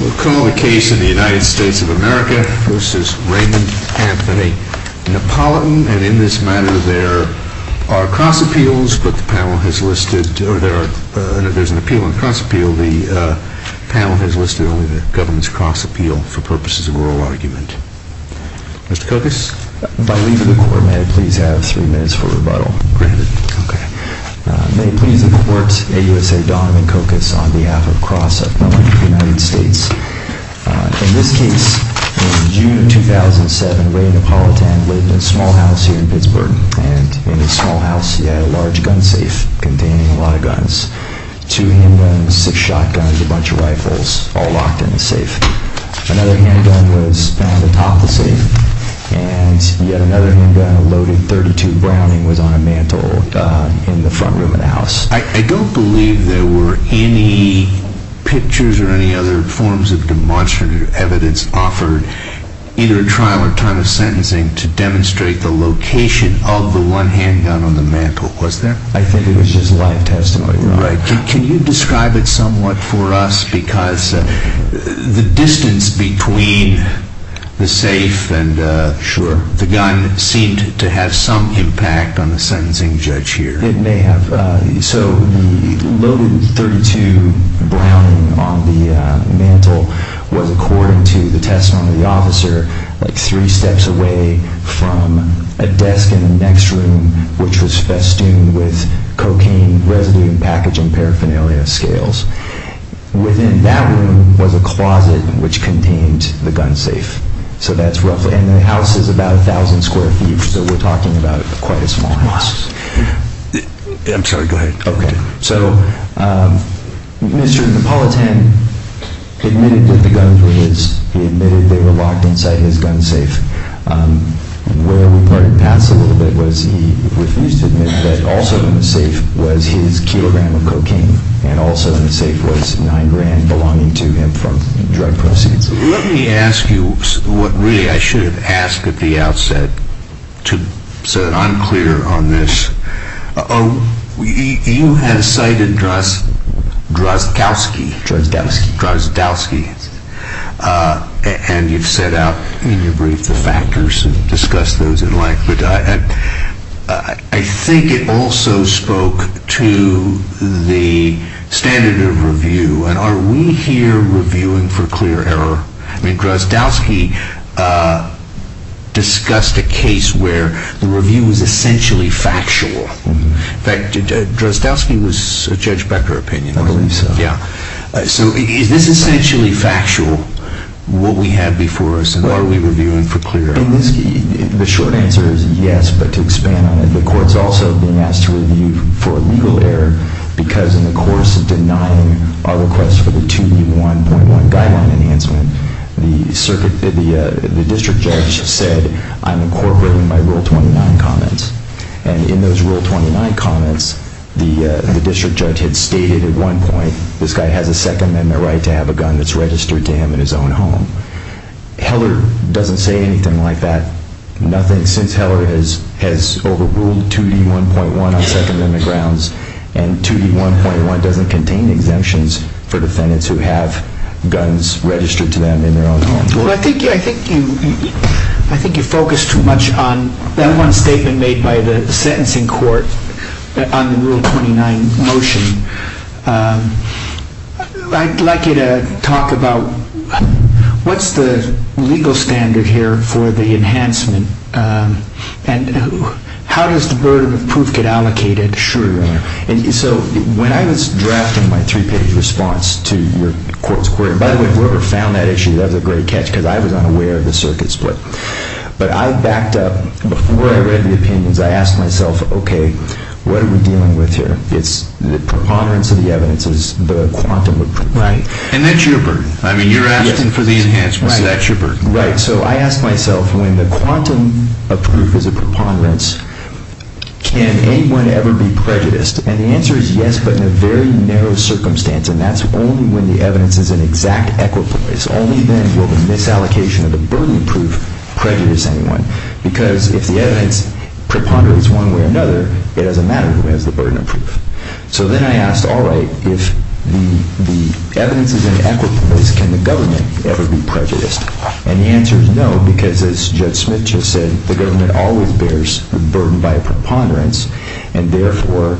We'll call the case in the United States of America v. Raymond Anthony Napolitan and in this matter there are cross-appeals but the panel has listed, or there's an appeal and cross-appeal, the panel has listed only the government's cross-appeal for purposes of oral argument. Mr. Kokas? By leaving the court, may I please have three minutes for rebuttal? Granted. Okay. May it please the court, A. U. S. A. Donovan Kokas on behalf of Cross-Appeal in the United States. In this case, in June of 2007, Raymond Napolitan lived in a small house here in Pittsburgh and in his small house he had a large gun safe containing a lot of guns. Two handguns, six shotguns, a bunch of rifles all locked in the safe. Another handgun was found atop the safe and yet another handgun, a loaded .32 Browning, was on a mantel in the front room of the house. I don't believe there were any pictures or any other forms of demonstrative evidence offered either at trial or time of sentencing to demonstrate the location of the one handgun on the mantel, was there? I think it was just live testimony, Your Honor. All right. Can you describe it somewhat for us because the distance between the safe and the gun seemed to have some impact on the sentencing judge here. So the loaded .32 Browning on the mantel was, according to the testimony of the officer, like three steps away from a desk in the next room which was festooned with cocaine residue and packaging paraphernalia scales. Within that room was a closet which contained the gun safe. And the house is about 1,000 square feet so we're talking about quite a small house. I'm sorry, go ahead. Okay. So Mr. Napolitan admitted that the guns were his. He admitted they were locked inside his gun safe. And where we parted paths a little bit was he refused to admit that also in the safe was his kilogram of cocaine and also in the safe was nine grand belonging to him from drug proceeds. Let me ask you what really I should have asked at the outset so that I'm clear on this. You had cited Drozdowski. Drozdowski. Drozdowski. Yes. And you've set out in your brief the factors and discussed those in length. I think it also spoke to the standard of review and are we here reviewing for clear error? I mean Drozdowski discussed a case where the review was essentially factual. In fact, Drozdowski was a Judge Becker opinion, wasn't he? I believe so. Yeah. So is this essentially factual what we have before us and are we reviewing for clear error? The short answer is yes, but to expand on it, the court's also being asked to review for legal error because in the course of denying our request for the 2D1.1 guideline enhancement, the district judge said I'm incorporating my Rule 29 comments. And in those Rule 29 comments, the district judge had stated at one point this guy has a Second Amendment right to have a gun that's registered to him in his own home. Heller doesn't say anything like that. Nothing since Heller has overruled 2D1.1 on Second Amendment grounds and 2D1.1 doesn't contain exemptions for defendants who have guns registered to them in their own home. Well, I think you focus too much on that one statement made by the sentencing court on the Rule 29 motion. I'd like you to talk about what's the legal standard here for the enhancement and how does the burden of proof get allocated? Sure, Your Honor. So when I was drafting my three-page response to your court's query, by the way, whoever found that issue, that was a great catch because I was unaware of the circuit split. But I backed up. Before I read the opinions, I asked myself, okay, what are we dealing with here? It's the preponderance of the evidence is the quantum of proof. Right. And that's your burden. I mean, you're asking for the enhancement. That's your burden. Right. So I asked myself, when the quantum of proof is a preponderance, can anyone ever be prejudiced? And the answer is yes, but in a very narrow circumstance. And that's only when the evidence is an exact equipoise. Only then will the misallocation of the burden of proof prejudice anyone. Because if the evidence preponderates one way or another, it doesn't matter who has the burden of proof. So then I asked, all right, if the evidence is an equipoise, can the government ever be prejudiced? And the answer is no, because as Judge Smith just said, the government always bears the burden by a preponderance. And therefore,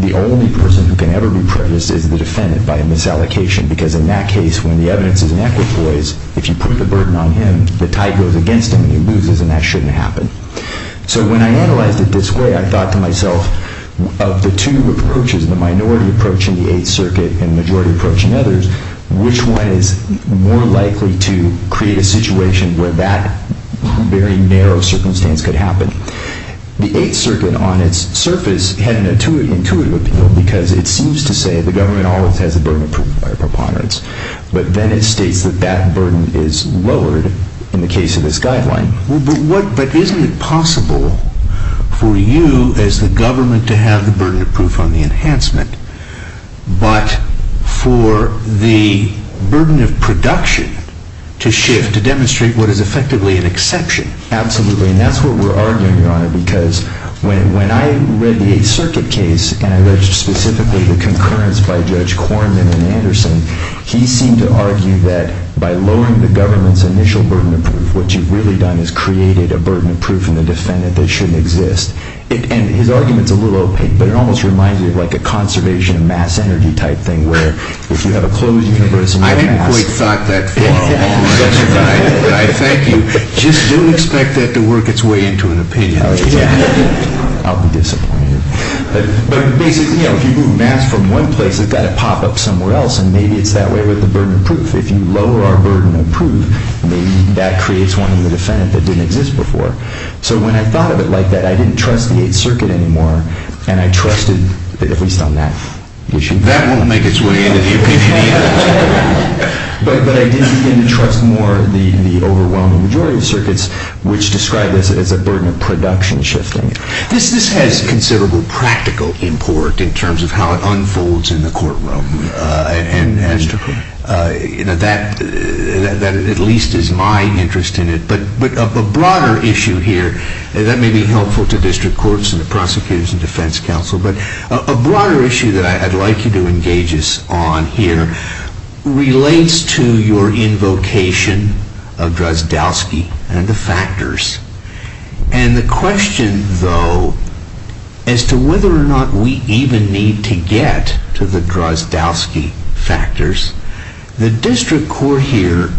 the only person who can ever be prejudiced is the defendant by a misallocation. Because in that case, when the evidence is an equipoise, if you put the burden on him, the tide goes against him and he loses. And that shouldn't happen. So when I analyzed it this way, I thought to myself, of the two approaches, the minority approach in the Eighth Circuit and the majority approach in others, which one is more likely to create a situation where that very narrow circumstance could happen? The Eighth Circuit, on its surface, had an intuitive appeal, because it seems to say the government always has the burden of proof by a preponderance. But then it states that that burden is lowered in the case of this guideline. But isn't it possible for you as the government to have the burden of proof on the enhancement, but for the burden of production to shift to demonstrate what is effectively an exception? Absolutely, and that's what we're arguing, Your Honor, because when I read the Eighth Circuit case, and I read specifically the concurrence by Judge Corman and Anderson, he seemed to argue that by lowering the government's initial burden of proof, what you've really done is created a burden of proof in the defendant that shouldn't exist. And his argument's a little opaque, but it almost reminds me of like a conservation of mass energy type thing, where if you have a closed universe and you have mass... I hadn't quite thought that far along, but I thank you. Just don't expect that to work its way into an opinion. I'll be disappointed. But basically, if you move mass from one place, it's got to pop up somewhere else, and maybe it's that way with the burden of proof. If you lower our burden of proof, maybe that creates one in the defendant that didn't exist before. So when I thought of it like that, I didn't trust the Eighth Circuit anymore, and I trusted, at least on that issue... That won't make its way into the opinion either. But I did begin to trust more the overwhelming majority of circuits, which describe this as a burden of production shifting. This has considerable practical import in terms of how it unfolds in the courtroom, and that at least is my interest in it. But a broader issue here that may be helpful to district courts and the prosecutors and defense counsel, but a broader issue that I'd like you to engage us on here relates to your invocation of Drozdowski and the factors. And the question, though, as to whether or not we even need to get to the Drozdowski factors, the district court here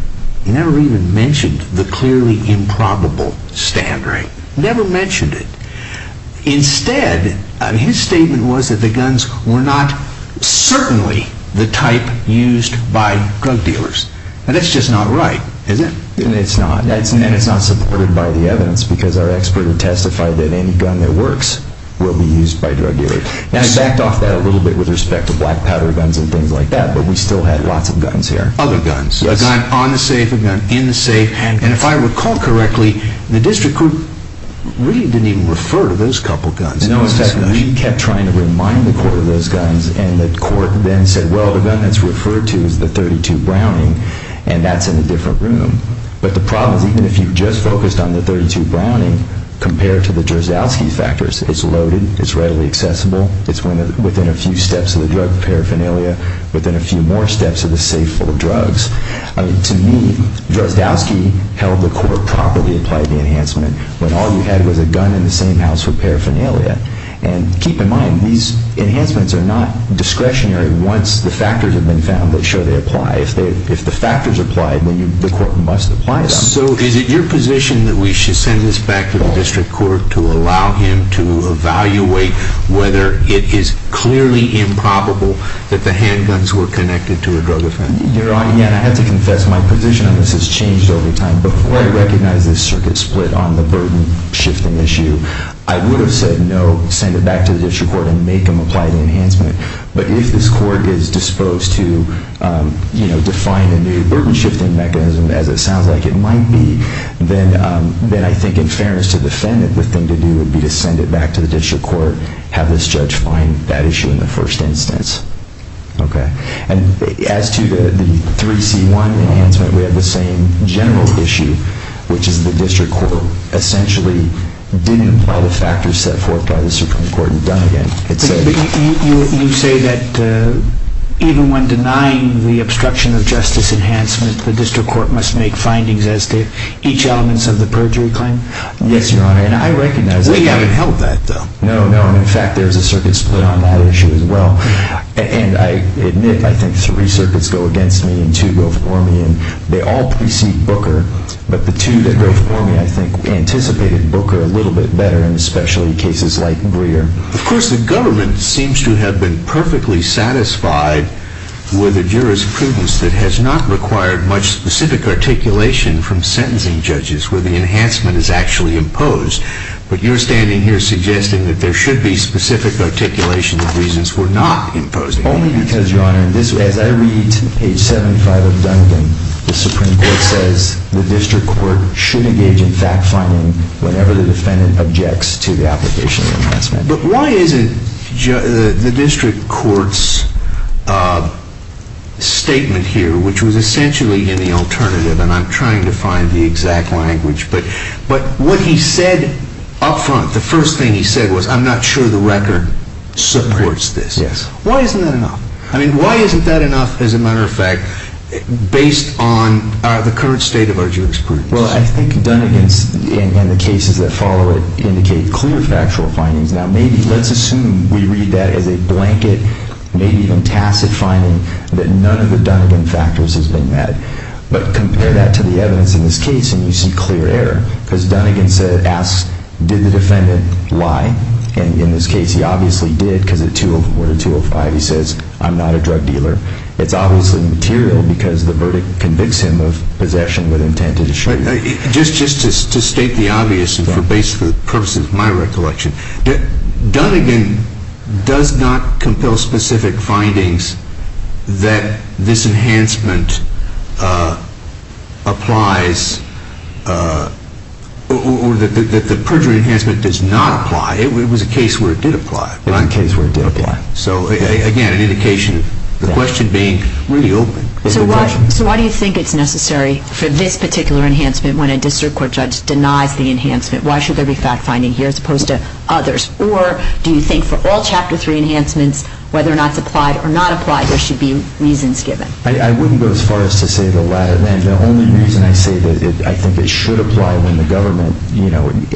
never even mentioned the clearly improbable stand rate. Never mentioned it. Instead, his statement was that the guns were not certainly the type used by drug dealers. And that's just not right, is it? It's not. And it's not supported by the evidence, because our expert had testified that any gun that works will be used by drug dealers. And I backed off that a little bit with respect to black powder guns and things like that, but we still had lots of guns here. Other guns. Yes. A gun on the safe, a gun in the safe. And if I recall correctly, the district court really didn't even refer to those couple guns. In fact, we kept trying to remind the court of those guns, and the court then said, well, the gun that's referred to is the .32 Browning, and that's in a different room. But the problem is even if you just focused on the .32 Browning compared to the Drozdowski factors, it's loaded, it's readily accessible, it's within a few steps of the drug paraphernalia, within a few more steps of the safe full of drugs. To me, Drozdowski held the court properly applied the enhancement when all you had was a gun in the same house with paraphernalia. And keep in mind, these enhancements are not discretionary once the factors have been found that show they apply. If the factors apply, then the court must apply them. So is it your position that we should send this back to the district court to allow him to evaluate whether it is clearly improbable that the handguns were connected to a drug offense? Your Honor, again, I have to confess my position on this has changed over time. Before I recognized this circuit split on the burden shifting issue, I would have said no, send it back to the district court and make them apply the enhancement. But if this court is disposed to define a new burden shifting mechanism, as it sounds like it might be, then I think in fairness to the defendant, the thing to do would be to send it back to the district court, have this judge find that issue in the first instance. And as to the 3C1 enhancement, we have the same general issue, which is the district court essentially didn't apply the factors set forth by the Supreme Court You say that even when denying the obstruction of justice enhancement, the district court must make findings as to each element of the perjury claim? Yes, Your Honor. And I recognize that. We haven't held that, though. No, no. In fact, there is a circuit split on that issue as well. And I admit, I think three circuits go against me and two go for me. They all precede Booker, but the two that go for me, I think, anticipated Booker a little bit better, and especially cases like Greer. Of course, the government seems to have been perfectly satisfied with a jurisprudence that has not required much specific articulation from sentencing judges where the enhancement is actually imposed. But you're standing here suggesting that there should be specific articulation of reasons where not imposed. The Supreme Court says the district court should engage in fact-finding whenever the defendant objects to the application of enhancement. But why isn't the district court's statement here, which was essentially in the alternative, and I'm trying to find the exact language, but what he said up front, the first thing he said was, I'm not sure the record supports this. Yes. Why isn't that enough? I mean, why isn't that enough, as a matter of fact, based on the current state of our jurisprudence? Well, I think Dunnegan's, and the cases that follow it, indicate clear factual findings. Now, maybe let's assume we read that as a blanket, maybe even tacit finding, that none of the Dunnegan factors has been met. But compare that to the evidence in this case, and you see clear error because Dunnegan asks, did the defendant lie? And in this case, he obviously did, because at Order 205 he says, I'm not a drug dealer. It's obviously material because the verdict convicts him of possession with intent to distribute. Just to state the obvious, and for the purposes of my recollection, Dunnegan does not compel specific findings that this enhancement applies, or that the perjury enhancement does not apply. It was a case where it did apply. It was a case where it did apply. So, again, an indication of the question being really open. So why do you think it's necessary for this particular enhancement when a district court judge denies the enhancement? Why should there be fact-finding here as opposed to others? Or do you think for all Chapter 3 enhancements, whether or not it's applied or not applied, there should be reasons given? I wouldn't go as far as to say the latter. The only reason I say that I think it should apply when the government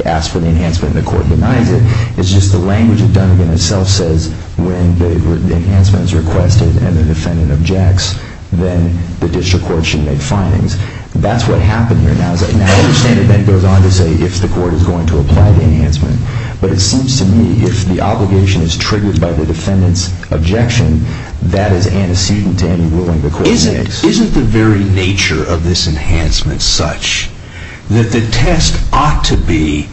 asks for the enhancement and the court denies it is just the language that Dunnegan himself says when the enhancement is requested and the defendant objects, then the district court should make findings. That's what happened here. Now, I understand it then goes on to say if the court is going to apply the enhancement. But it seems to me if the obligation is triggered by the defendant's objection, that is antecedent to any ruling the court makes. Isn't the very nature of this enhancement such that the test ought to be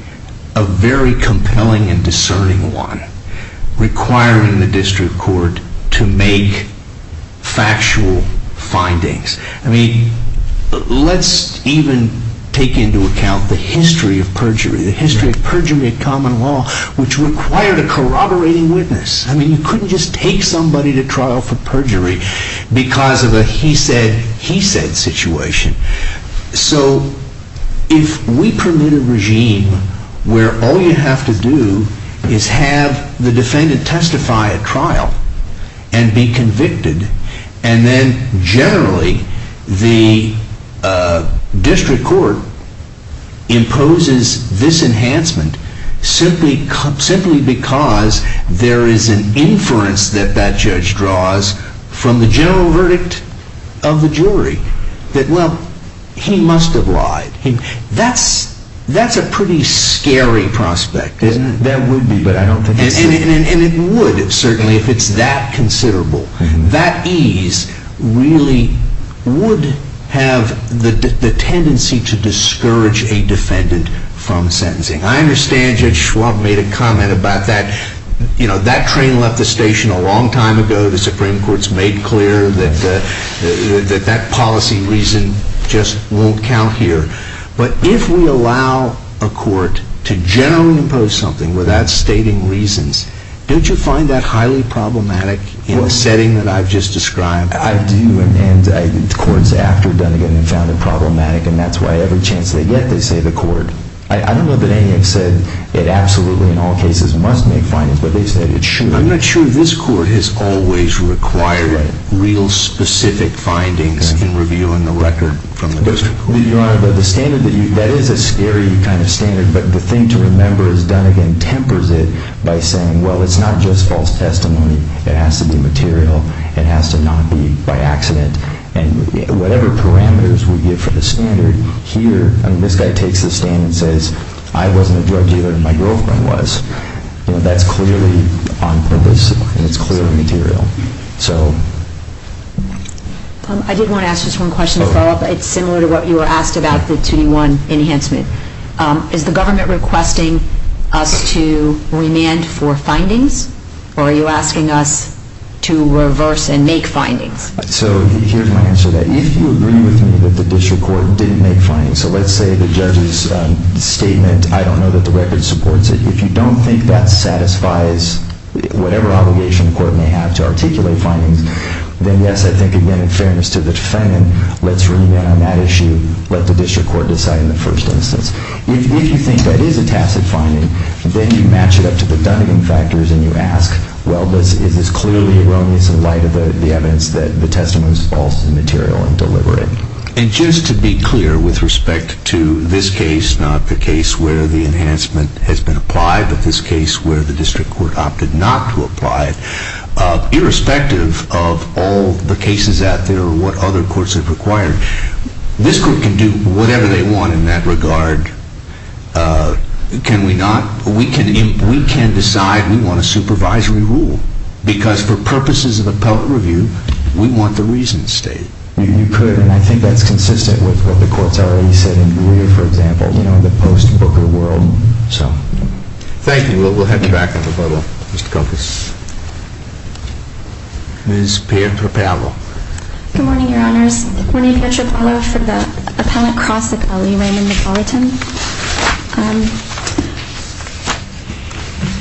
a very compelling and discerning one requiring the district court to make factual findings? I mean, let's even take into account the history of perjury, the history of perjury at common law, which required a corroborating witness. I mean, you couldn't just take somebody to trial for perjury because of a he said, he said situation. So if we permit a regime where all you have to do is have the defendant testify at trial and be convicted and then generally the district court imposes this enhancement simply because there is an inference that that judge draws from the general verdict of the jury that, well, he must have lied. That's a pretty scary prospect, isn't it? That would be, but I don't think it is. And it would, certainly, if it's that considerable. That ease really would have the tendency to discourage a defendant from sentencing. I understand Judge Schwab made a comment about that. You know, that train left the station a long time ago. The Supreme Court's made clear that that policy reason just won't count here. But if we allow a court to generally impose something without stating reasons, don't you find that highly problematic in the setting that I've just described? I do, and courts after Dunnegan have found it problematic, and that's why every chance they get they say the court. I don't know that any have said it absolutely in all cases must make findings, but they've said it should. I'm not sure this court has always required real specific findings in reviewing the record from the district court. Your Honor, that is a scary kind of standard, but the thing to remember is Dunnegan tempers it by saying, well, it's not just false testimony. It has to be material. It has to not be by accident. And whatever parameters we give for the standard here, I mean, this guy takes the stand and says, I wasn't a drug dealer and my girlfriend was. That's clearly on purpose, and it's clearly material. I did want to ask just one question to follow up. It's similar to what you were asked about, the 2D1 enhancement. Is the government requesting us to remand for findings, or are you asking us to reverse and make findings? So here's my answer to that. If you agree with me that the district court didn't make findings, so let's say the judge's statement, I don't know that the record supports it. If you don't think that satisfies whatever obligation the court may have to articulate findings, then yes, I think, again, in fairness to the defendant, let's remand on that issue. Let the district court decide in the first instance. If you think that is a tacit finding, then you match it up to the Dunnegan factors and you ask, well, is this clearly erroneous in light of the evidence that the testimony is false and material and deliberate? And just to be clear with respect to this case, not the case where the enhancement has been applied, but this case where the district court opted not to apply it, irrespective of all the cases out there or what other courts have required, this court can do whatever they want in that regard. Can we not? We can decide we want a supervisory rule, because for purposes of appellate review, we want the reasons state. You could, and I think that's consistent with what the court's already said, for example, you know, the post-Booker world. Thank you. We'll head back on the bubble. Ms. Petropavlov. Good morning, Your Honors. My name is Petropavlov for the appellate cross at L.E. Raymond McAllerton.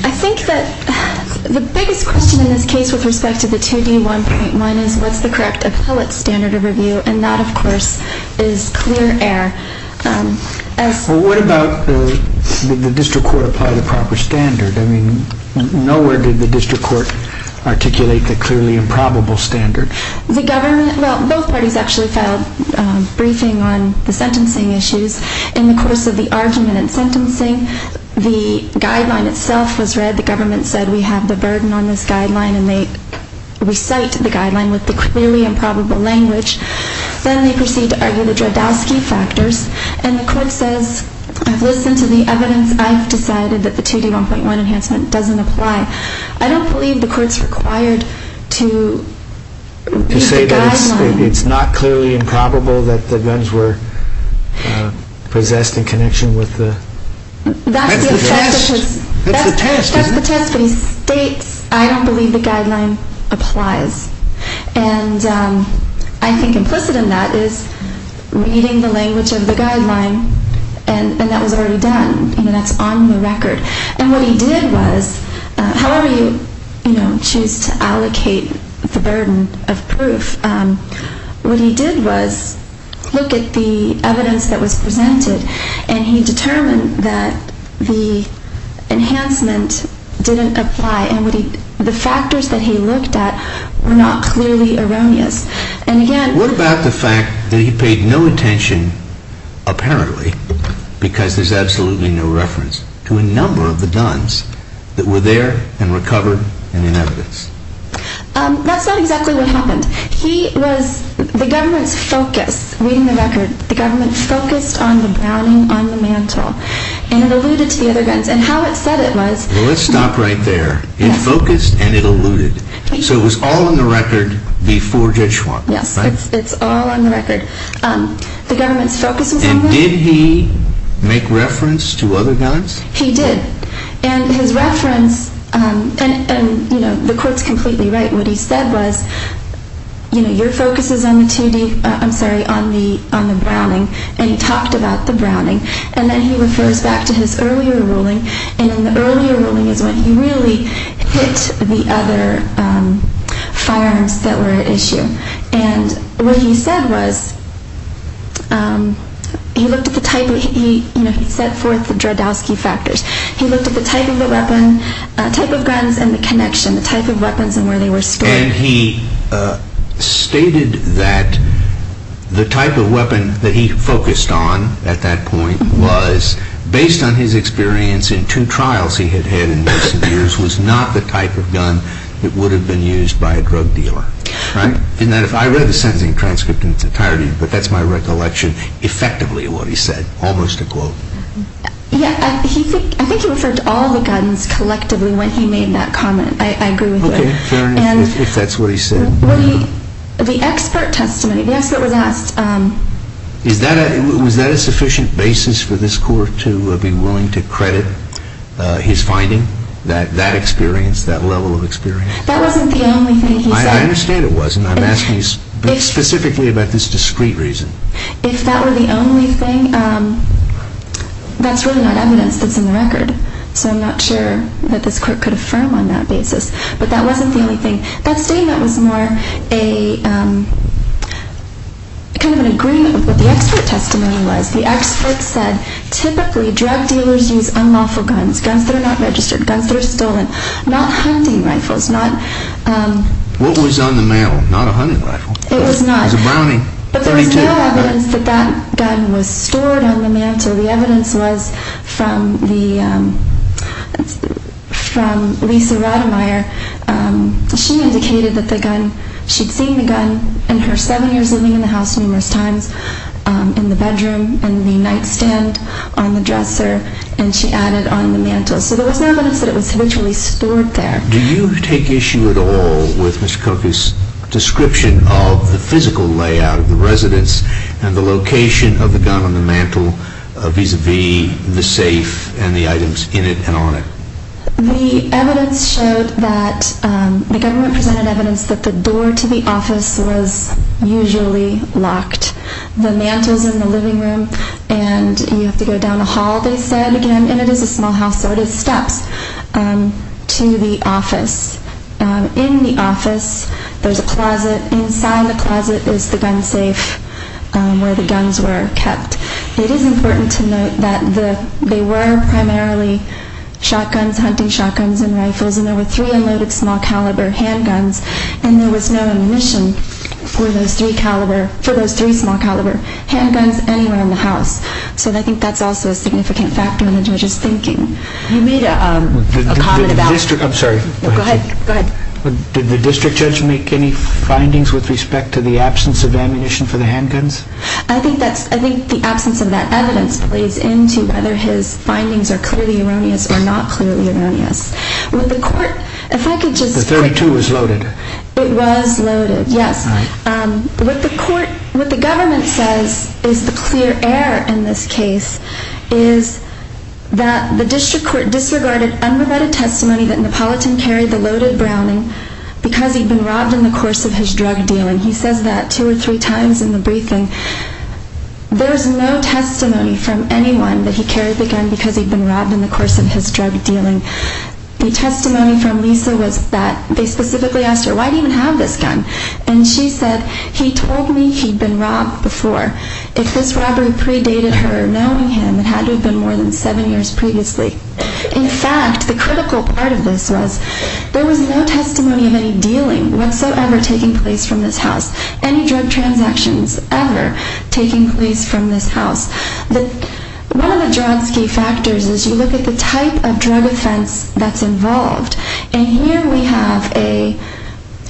I think that the biggest question in this case with respect to the 2D1.1 is what's the correct appellate standard of review, and that, of course, is clear air. What about the district court apply the proper standard? I mean, nowhere did the district court articulate the clearly improbable standard. The government, well, both parties actually filed a briefing on the sentencing issues in the course of the argument and sentencing. The guideline itself was read. The government said we have the burden on this guideline, and they recite the guideline with the clearly improbable language. Then they proceed to argue the Dredowski factors, and the court says, I've listened to the evidence. I've decided that the 2D1.1 enhancement doesn't apply. I don't believe the court's required to say that it's not clearly improbable that the guns were possessed in connection with the guns. That's the test, isn't it? That's the test, but he states, I don't believe the guideline applies. And I think implicit in that is reading the language of the guideline, and that was already done, and that's on the record. And what he did was, however you choose to allocate the burden of proof, what he did was look at the evidence that was presented, and he determined that the enhancement didn't apply, and the factors that he looked at were not clearly erroneous. What about the fact that he paid no attention apparently, because there's absolutely no reference, to a number of the guns that were there and recovered and in evidence? That's not exactly what happened. He was, the government's focus, reading the record, the government focused on the browning on the mantle, and it alluded to the other guns, and how it said it was. Well, let's stop right there. It focused and it alluded. So it was all on the record before Judge Schwab. Yes, it's all on the record. The government's focus was on the guns. And did he make reference to other guns? He did. And his reference, and the court's completely right, what he said was, you know, your focus is on the 2D, I'm sorry, on the browning, and he talked about the browning. And then he refers back to his earlier ruling, and in the earlier ruling is when he really hit the other firearms that were at issue. And what he said was, he looked at the type of, you know, he set forth the Dredowski factors. He looked at the type of the weapon, type of guns, and the connection, the type of weapons and where they were stored. And he stated that the type of weapon that he focused on at that point was, based on his experience in two trials he had had in recent years, was not the type of gun that would have been used by a drug dealer. I read the sentencing transcript in its entirety, but that's my recollection, effectively what he said, almost a quote. Yeah, I think he referred to all the guns collectively when he made that comment. I agree with that. Okay, fair enough, if that's what he said. The expert testimony, the expert was asked. Was that a sufficient basis for this court to be willing to credit his finding, that experience, that level of experience? That wasn't the only thing he said. I understand it wasn't. I'm asking you specifically about this discrete reason. If that were the only thing, that's really not evidence that's in the record, so I'm not sure that this court could affirm on that basis. But that wasn't the only thing. That statement was more a kind of an agreement of what the expert testimony was. The expert said, typically drug dealers use unlawful guns, guns that are not registered, guns that are stolen, not hunting rifles. What was on the mail? Not a hunting rifle. It was not. It was a Browning .32. There was no evidence that that gun was stored on the mantle. The evidence was from Lisa Rademeyer. She indicated that she'd seen the gun in her seven years living in the house numerous times, in the bedroom, in the nightstand, on the dresser, and she added on the mantle. So there was no evidence that it was habitually stored there. Do you take issue at all with Mr. Cook's description of the physical layout of the residence and the location of the gun on the mantle vis-à-vis the safe and the items in it and on it? The evidence showed that the government presented evidence that the door to the office was usually locked. The mantle's in the living room and you have to go down the hall, they said, again, and it is a small house so it is steps to the office. In the office there's a closet. Inside the closet is the gun safe where the guns were kept. It is important to note that they were primarily shotguns, hunting shotguns and rifles, and there were three unloaded small caliber handguns, and there was no ammunition for those three small caliber handguns anywhere in the house. So I think that's also a significant factor in the judge's thinking. You made a comment about... I'm sorry. Go ahead. Did the district judge make any findings with respect to the absence of ammunition for the handguns? I think the absence of that evidence plays into whether his findings are clearly erroneous or not clearly erroneous. The .32 was loaded. It was loaded, yes. What the government says is the clear error in this case is that the district court disregarded unremitted testimony that Napolitan carried the loaded Browning because he'd been robbed in the course of his drug dealing. He says that two or three times in the briefing. There's no testimony from anyone that he carried the gun because he'd been robbed in the course of his drug dealing. The testimony from Lisa was that they specifically asked her, why do you even have this gun? And she said, he told me he'd been robbed before. If this robber predated her knowing him, it had to have been more than seven years previously. In fact, the critical part of this was, there was no testimony of any dealing whatsoever taking place from this house. Any drug transactions ever taking place from this house. One of the Joradsky factors is you look at the type of drug offense that's involved. And here we have a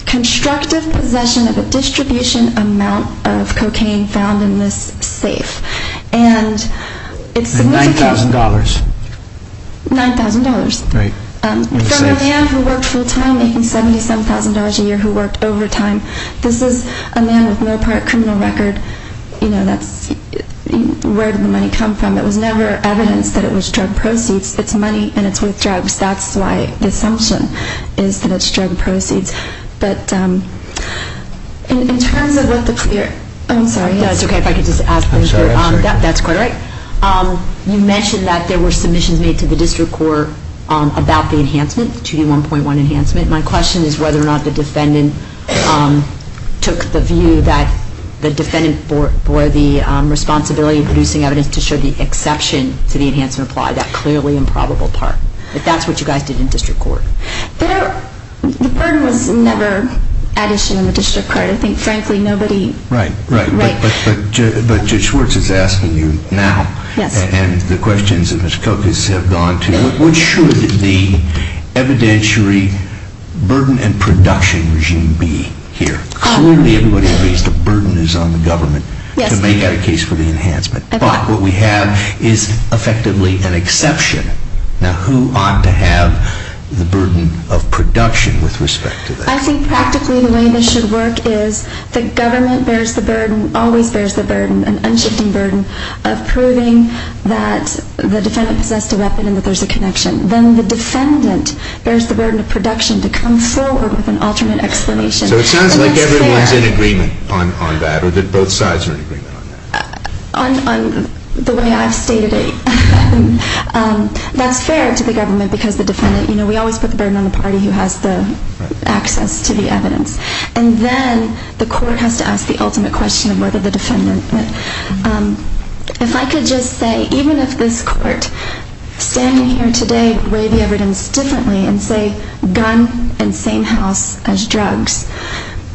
constructive possession of a distribution amount of cocaine found in this safe. And $9,000. $9,000. From a man who worked full time making $77,000 a year who worked overtime. This is a man with no prior criminal record. Where did the money come from? It was never evidence that it was drug proceeds. It's money and it's with drugs. That's why the assumption is that it's drug proceeds. But in terms of what the clear... I'm sorry. It's okay. If I could just ask... I'm sorry. That's quite all right. You mentioned that there were submissions made to the district court about the enhancement, the 2D1.1 enhancement. My question is whether or not the defendant took the view that the defendant bore the responsibility in producing evidence to show the exception to the enhancement applied. That clearly improbable part. If that's what you guys did in district court. The burden was never added to the district court. I think frankly nobody... Right. Right. But Judge Schwartz is asking you now. Yes. And the questions that Ms. Kokas have gone to. What should the evidentiary burden and production regime be here? Clearly everybody agrees the burden is on the government to make that a case for the enhancement. But what we have is effectively an exception. Now who ought to have the burden of production with respect to that? I think practically the way this should work is the government bears the burden, always bears the burden, an unshifting burden of proving that the defendant possessed a weapon and that there's a connection. Then the defendant bears the burden of production to come forward with an alternate explanation. So it sounds like everyone's in agreement on that or that both sides are in agreement on that? On the way I've stated it. That's fair to the government because the defendant, you know, we always put the burden on the party who has the access to the evidence. And then the court has to ask the ultimate question of whether the defendant... If I could just say, even if this court, standing here today, weighed the evidence differently and say gun and same house as drugs,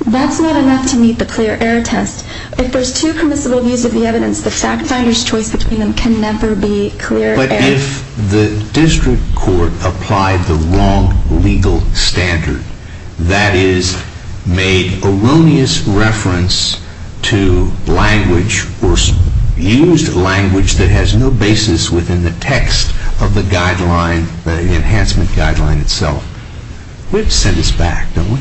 that's not enough to meet the clear error test. If there's two permissible views of the evidence, the fact finder's choice between them can never be clear error. But if the district court applied the wrong legal standard, that is, made erroneous reference to language or used language that has no basis within the text of the enhancement guideline itself, we have to send this back, don't we?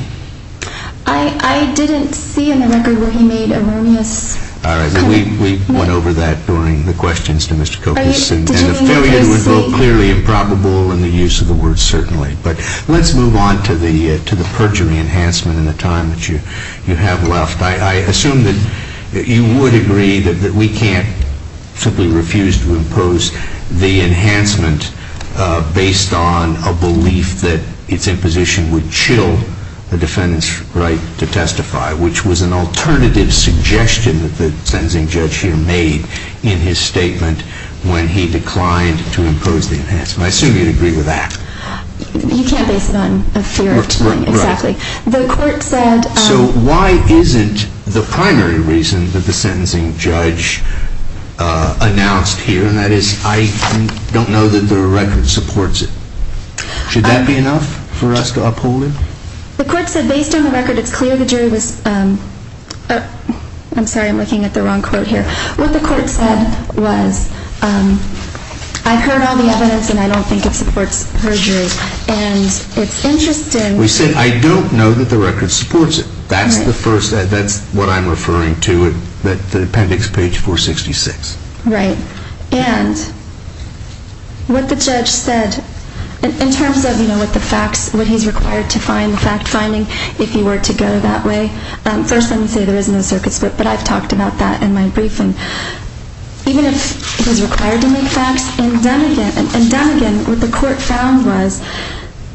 I didn't see in the record where he made erroneous... All right, we went over that during the questions to Mr. Kokos. And the failure would be clearly improbable in the use of the word certainly. But let's move on to the perjury enhancement in the time that you have left. I assume that you would agree that we can't simply refuse to impose the enhancement based on a belief that its imposition would chill the defendant's right to testify, which was an alternative suggestion that the sentencing judge here made in his statement when he declined to impose the enhancement. I assume you'd agree with that. You can't base it on a fear of declining, exactly. The court said... So why isn't the primary reason that the sentencing judge announced here, and that is, I don't know that the record supports it. Should that be enough for us to uphold it? The court said based on the record, it's clear the jury was... I'm sorry, I'm looking at the wrong quote here. What the court said was, I've heard all the evidence and I don't think it supports perjury. And it's interesting... We said, I don't know that the record supports it. That's what I'm referring to at the appendix page 466. Right. And what the judge said, in terms of what he's required to find, the fact-finding, if he were to go that way. First, let me say there is no circuit split, but I've talked about that in my briefing. Even if he's required to make facts, in Dunnegan, what the court found was,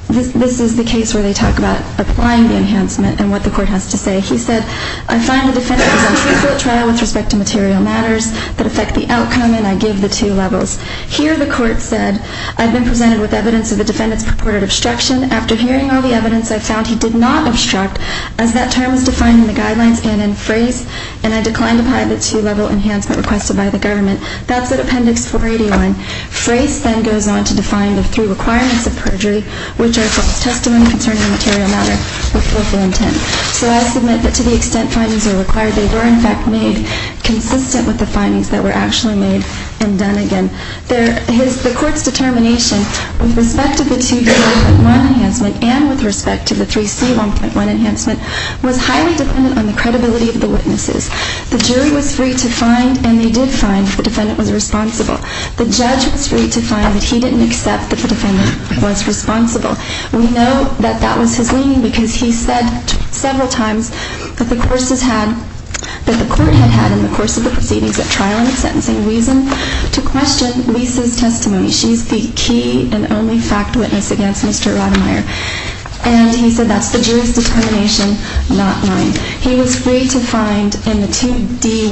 this is the case where they talk about applying the enhancement and what the court has to say. He said, I find the defendant is untruthful at trial with respect to material matters, that affect the outcome, and I give the two levels. Here, the court said, I've been presented with evidence of the defendant's purported obstruction. After hearing all the evidence, I found he did not obstruct, as that term was defined in the guidelines and in phrase, and I declined to apply the two-level enhancement requested by the government. That's at appendix 481. Phrase then goes on to define the three requirements of perjury, which are false testimony concerning the material matter with willful intent. So I submit that to the extent findings are required, that they were in fact made consistent with the findings that were actually made in Dunnegan. The court's determination with respect to the 2C1.1 enhancement and with respect to the 3C1.1 enhancement was highly dependent on the credibility of the witnesses. The jury was free to find, and they did find, that the defendant was responsible. The judge was free to find that he didn't accept that the defendant was responsible. We know that that was his leaning because he said several times that the court had had in the course of the proceedings at trial and sentencing reason to question Lisa's testimony. She's the key and only fact witness against Mr. Rademeyer, and he said that's the jury's determination, not mine. He was free to find in the 2D1.1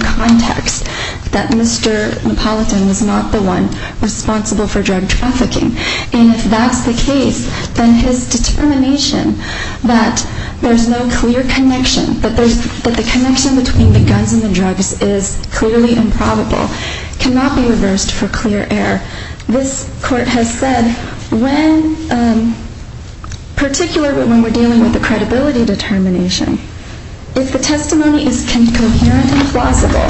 context that Mr. Napolitan was not the one responsible for drug trafficking, and if that's the case, then his determination that there's no clear connection, that the connection between the guns and the drugs is clearly improbable, cannot be reversed for clear error. This court has said, particularly when we're dealing with the credibility determination, if the testimony is coherent and plausible,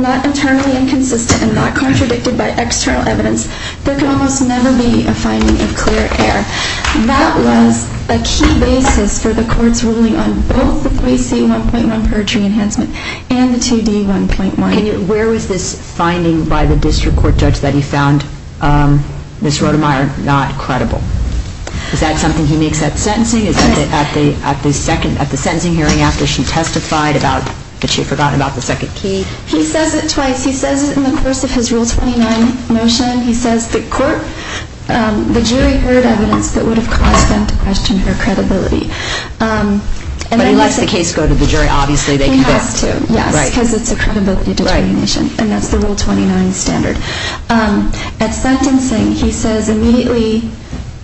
not internally inconsistent and not contradicted by external evidence, there can almost never be a finding of clear error. That was a key basis for the court's ruling on both the 3C1.1 perjury enhancement and the 2D1.1. And where was this finding by the district court judge that he found Ms. Rademeyer not credible? Is that something he makes at sentencing? Yes. At the second, at the sentencing hearing after she testified about that she had forgotten about the second key? He says it twice. He says it in the course of his Rule 29 motion. He says the jury heard evidence that would have caused them to question her credibility. But he lets the case go to the jury, obviously. He has to, yes, because it's a credibility determination, and that's the Rule 29 standard. At sentencing, he says immediately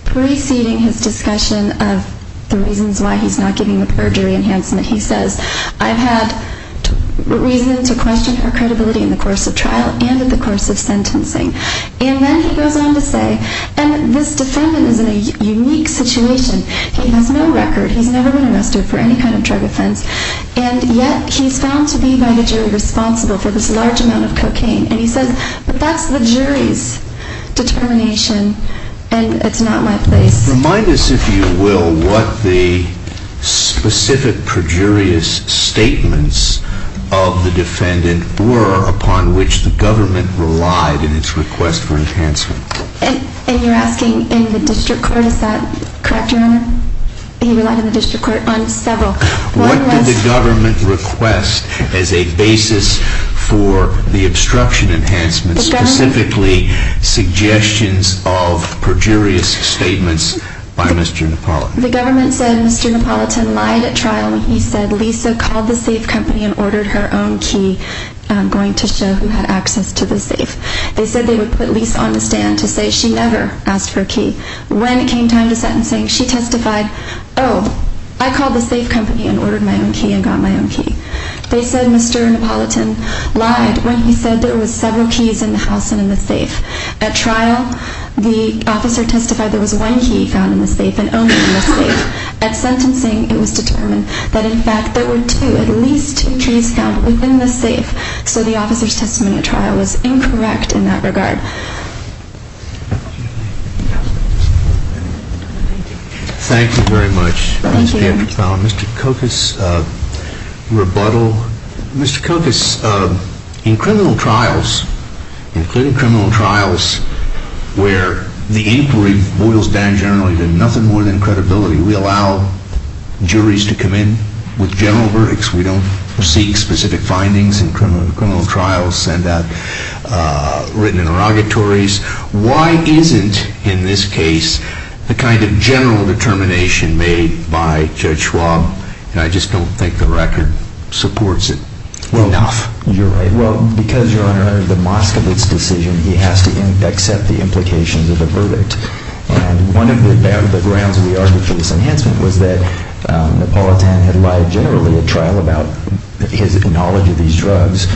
preceding his discussion of the reasons why he's not giving the perjury enhancement, he says, I've had reason to question her credibility in the course of trial and in the course of sentencing. And then he goes on to say, and this defendant is in a unique situation. He has no record. He's never been arrested for any kind of drug offense. And yet he's found to be by the jury responsible for this large amount of cocaine. And he says, but that's the jury's determination, and it's not my place. Remind us, if you will, what the specific perjurious statements of the defendant were upon which the government relied in its request for enhancement. And you're asking in the district court. Is that correct, Your Honor? He relied in the district court on several. What did the government request as a basis for the obstruction enhancement, specifically suggestions of perjurious statements by Mr. Napolitan? The government said Mr. Napolitan lied at trial when he said Lisa called the safe company and ordered her own key going to show who had access to the safe. They said they would put Lisa on the stand to say she never asked for a key. When it came time to sentencing, she testified, oh, I called the safe company and ordered my own key and got my own key. They said Mr. Napolitan lied when he said there were several keys in the house and in the safe. At trial, the officer testified there was one key found in the safe and only in the safe. At sentencing, it was determined that, in fact, there were two, at least two keys found within the safe. So the officer's testimony at trial was incorrect in that regard. Thank you very much. Thank you. Mr. Kokos, rebuttal. Mr. Kokos, in criminal trials, including criminal trials where the inquiry boils down generally to nothing more than credibility, we allow juries to come in with general verdicts. We don't seek specific findings in criminal trials sent out, written interrogatories. Why isn't, in this case, the kind of general determination made by Judge Schwab? I just don't think the record supports it enough. You're right. Because, Your Honor, under the Moskowitz decision, he has to accept the implications of the verdict. One of the grounds we argue for this enhancement was that Napolitan had lied generally at trial about his knowledge of these drugs.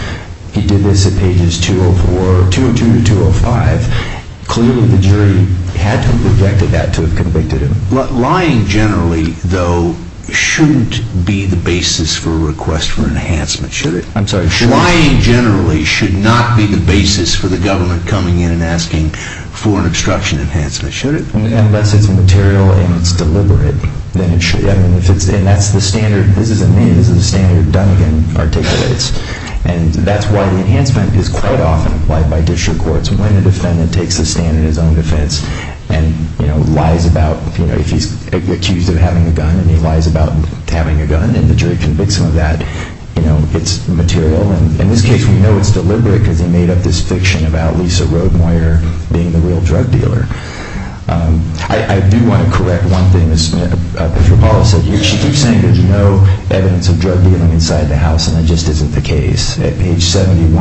He did this at pages 202 to 205. Clearly, the jury had to have rejected that to have convicted him. Lying generally, though, shouldn't be the basis for a request for enhancement, should it? I'm sorry, should it? Lying generally should not be the basis for the government coming in and asking for an obstruction enhancement, should it? Unless it's material and it's deliberate, then it should. And that's the standard. This isn't me. This is the standard Dunnigan articulates. And that's why the enhancement is quite often applied by district courts. When a defendant takes a stand in his own defense and lies about, you know, if he's accused of having a gun, and he lies about having a gun and the jury convicts him of that, you know, it's material. In this case, we know it's deliberate because he made up this fiction about Lisa Rodemeier being the real drug dealer. I do want to correct one thing that Patricia Paula said. She keeps saying there's no evidence of drug dealing inside the house, and that just isn't the case. At page 71,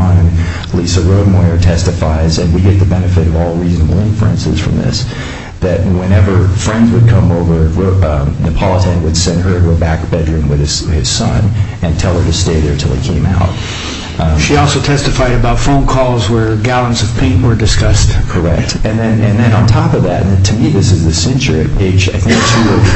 Lisa Rodemeier testifies, and we get the benefit of all reasonable inferences from this, that whenever friends would come over, Napolitan would send her to a back bedroom with his son and tell her to stay there until he came out. She also testified about phone calls where gallons of paint were discussed. Correct. And then on top of that, and to me this is the censure at page, I think,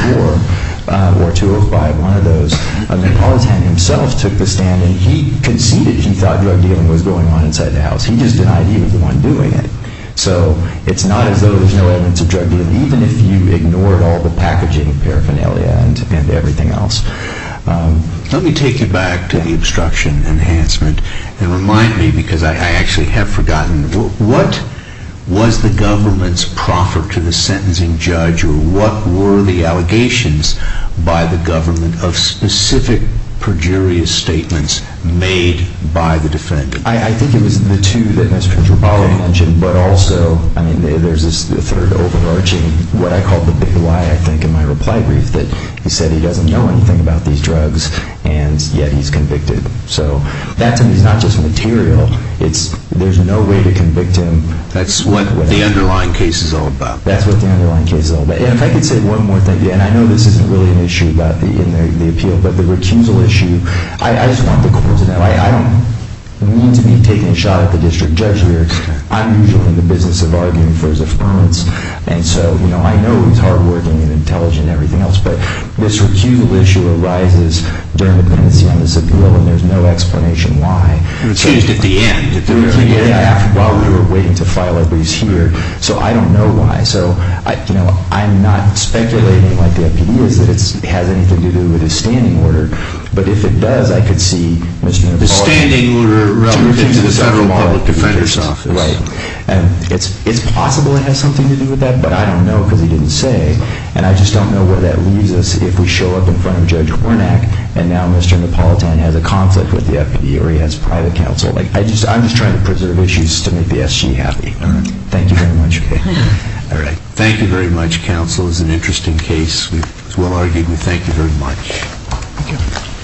204 or 205, one of those, Napolitan himself took the stand, and he conceded he thought drug dealing was going on inside the house. He just denied he was the one doing it. So it's not as though there's no evidence of drug dealing, even if you ignored all the packaging, paraphernalia, and everything else. Let me take you back to the obstruction enhancement and remind me, because I actually have forgotten, what was the government's proffer to the sentencing judge, or what were the allegations by the government of specific perjurious statements made by the defendant? I think it was the two that Mr. Tripoli mentioned, but also, I mean, there's this third overarching, what I call the big lie, I think, in my reply brief, that he said he doesn't know anything about these drugs, and yet he's convicted. So that to me is not just material, there's no way to convict him. That's what the underlying case is all about. That's what the underlying case is all about. And if I could say one more thing, and I know this isn't really an issue in the appeal, but the recusal issue, I just want the court to know, I don't mean to be taking a shot at the district judge here, I'm usually in the business of arguing for his affirmance, and so I know he's hardworking and intelligent and everything else, but this recusal issue arises during the pendency on this appeal, and there's no explanation why. It was changed at the end. It was changed at the end while we were waiting to file our briefs here, so I don't know why. So, you know, I'm not speculating like the FPD is that it has anything to do with his standing order, but if it does, I could see Mr. Tripoli. The standing order relative to the Federal Public Defender's Office. Right. And it's possible it has something to do with that, but I don't know because he didn't say, and I just don't know where that leaves us if we show up in front of Judge Wernick and now Mr. Napolitan has a conflict with the FPD or he has private counsel. I'm just trying to preserve issues to make the SG happy. All right. Thank you very much. All right. Thank you very much, counsel. It was an interesting case. It was well-argued. We thank you very much. Thank you.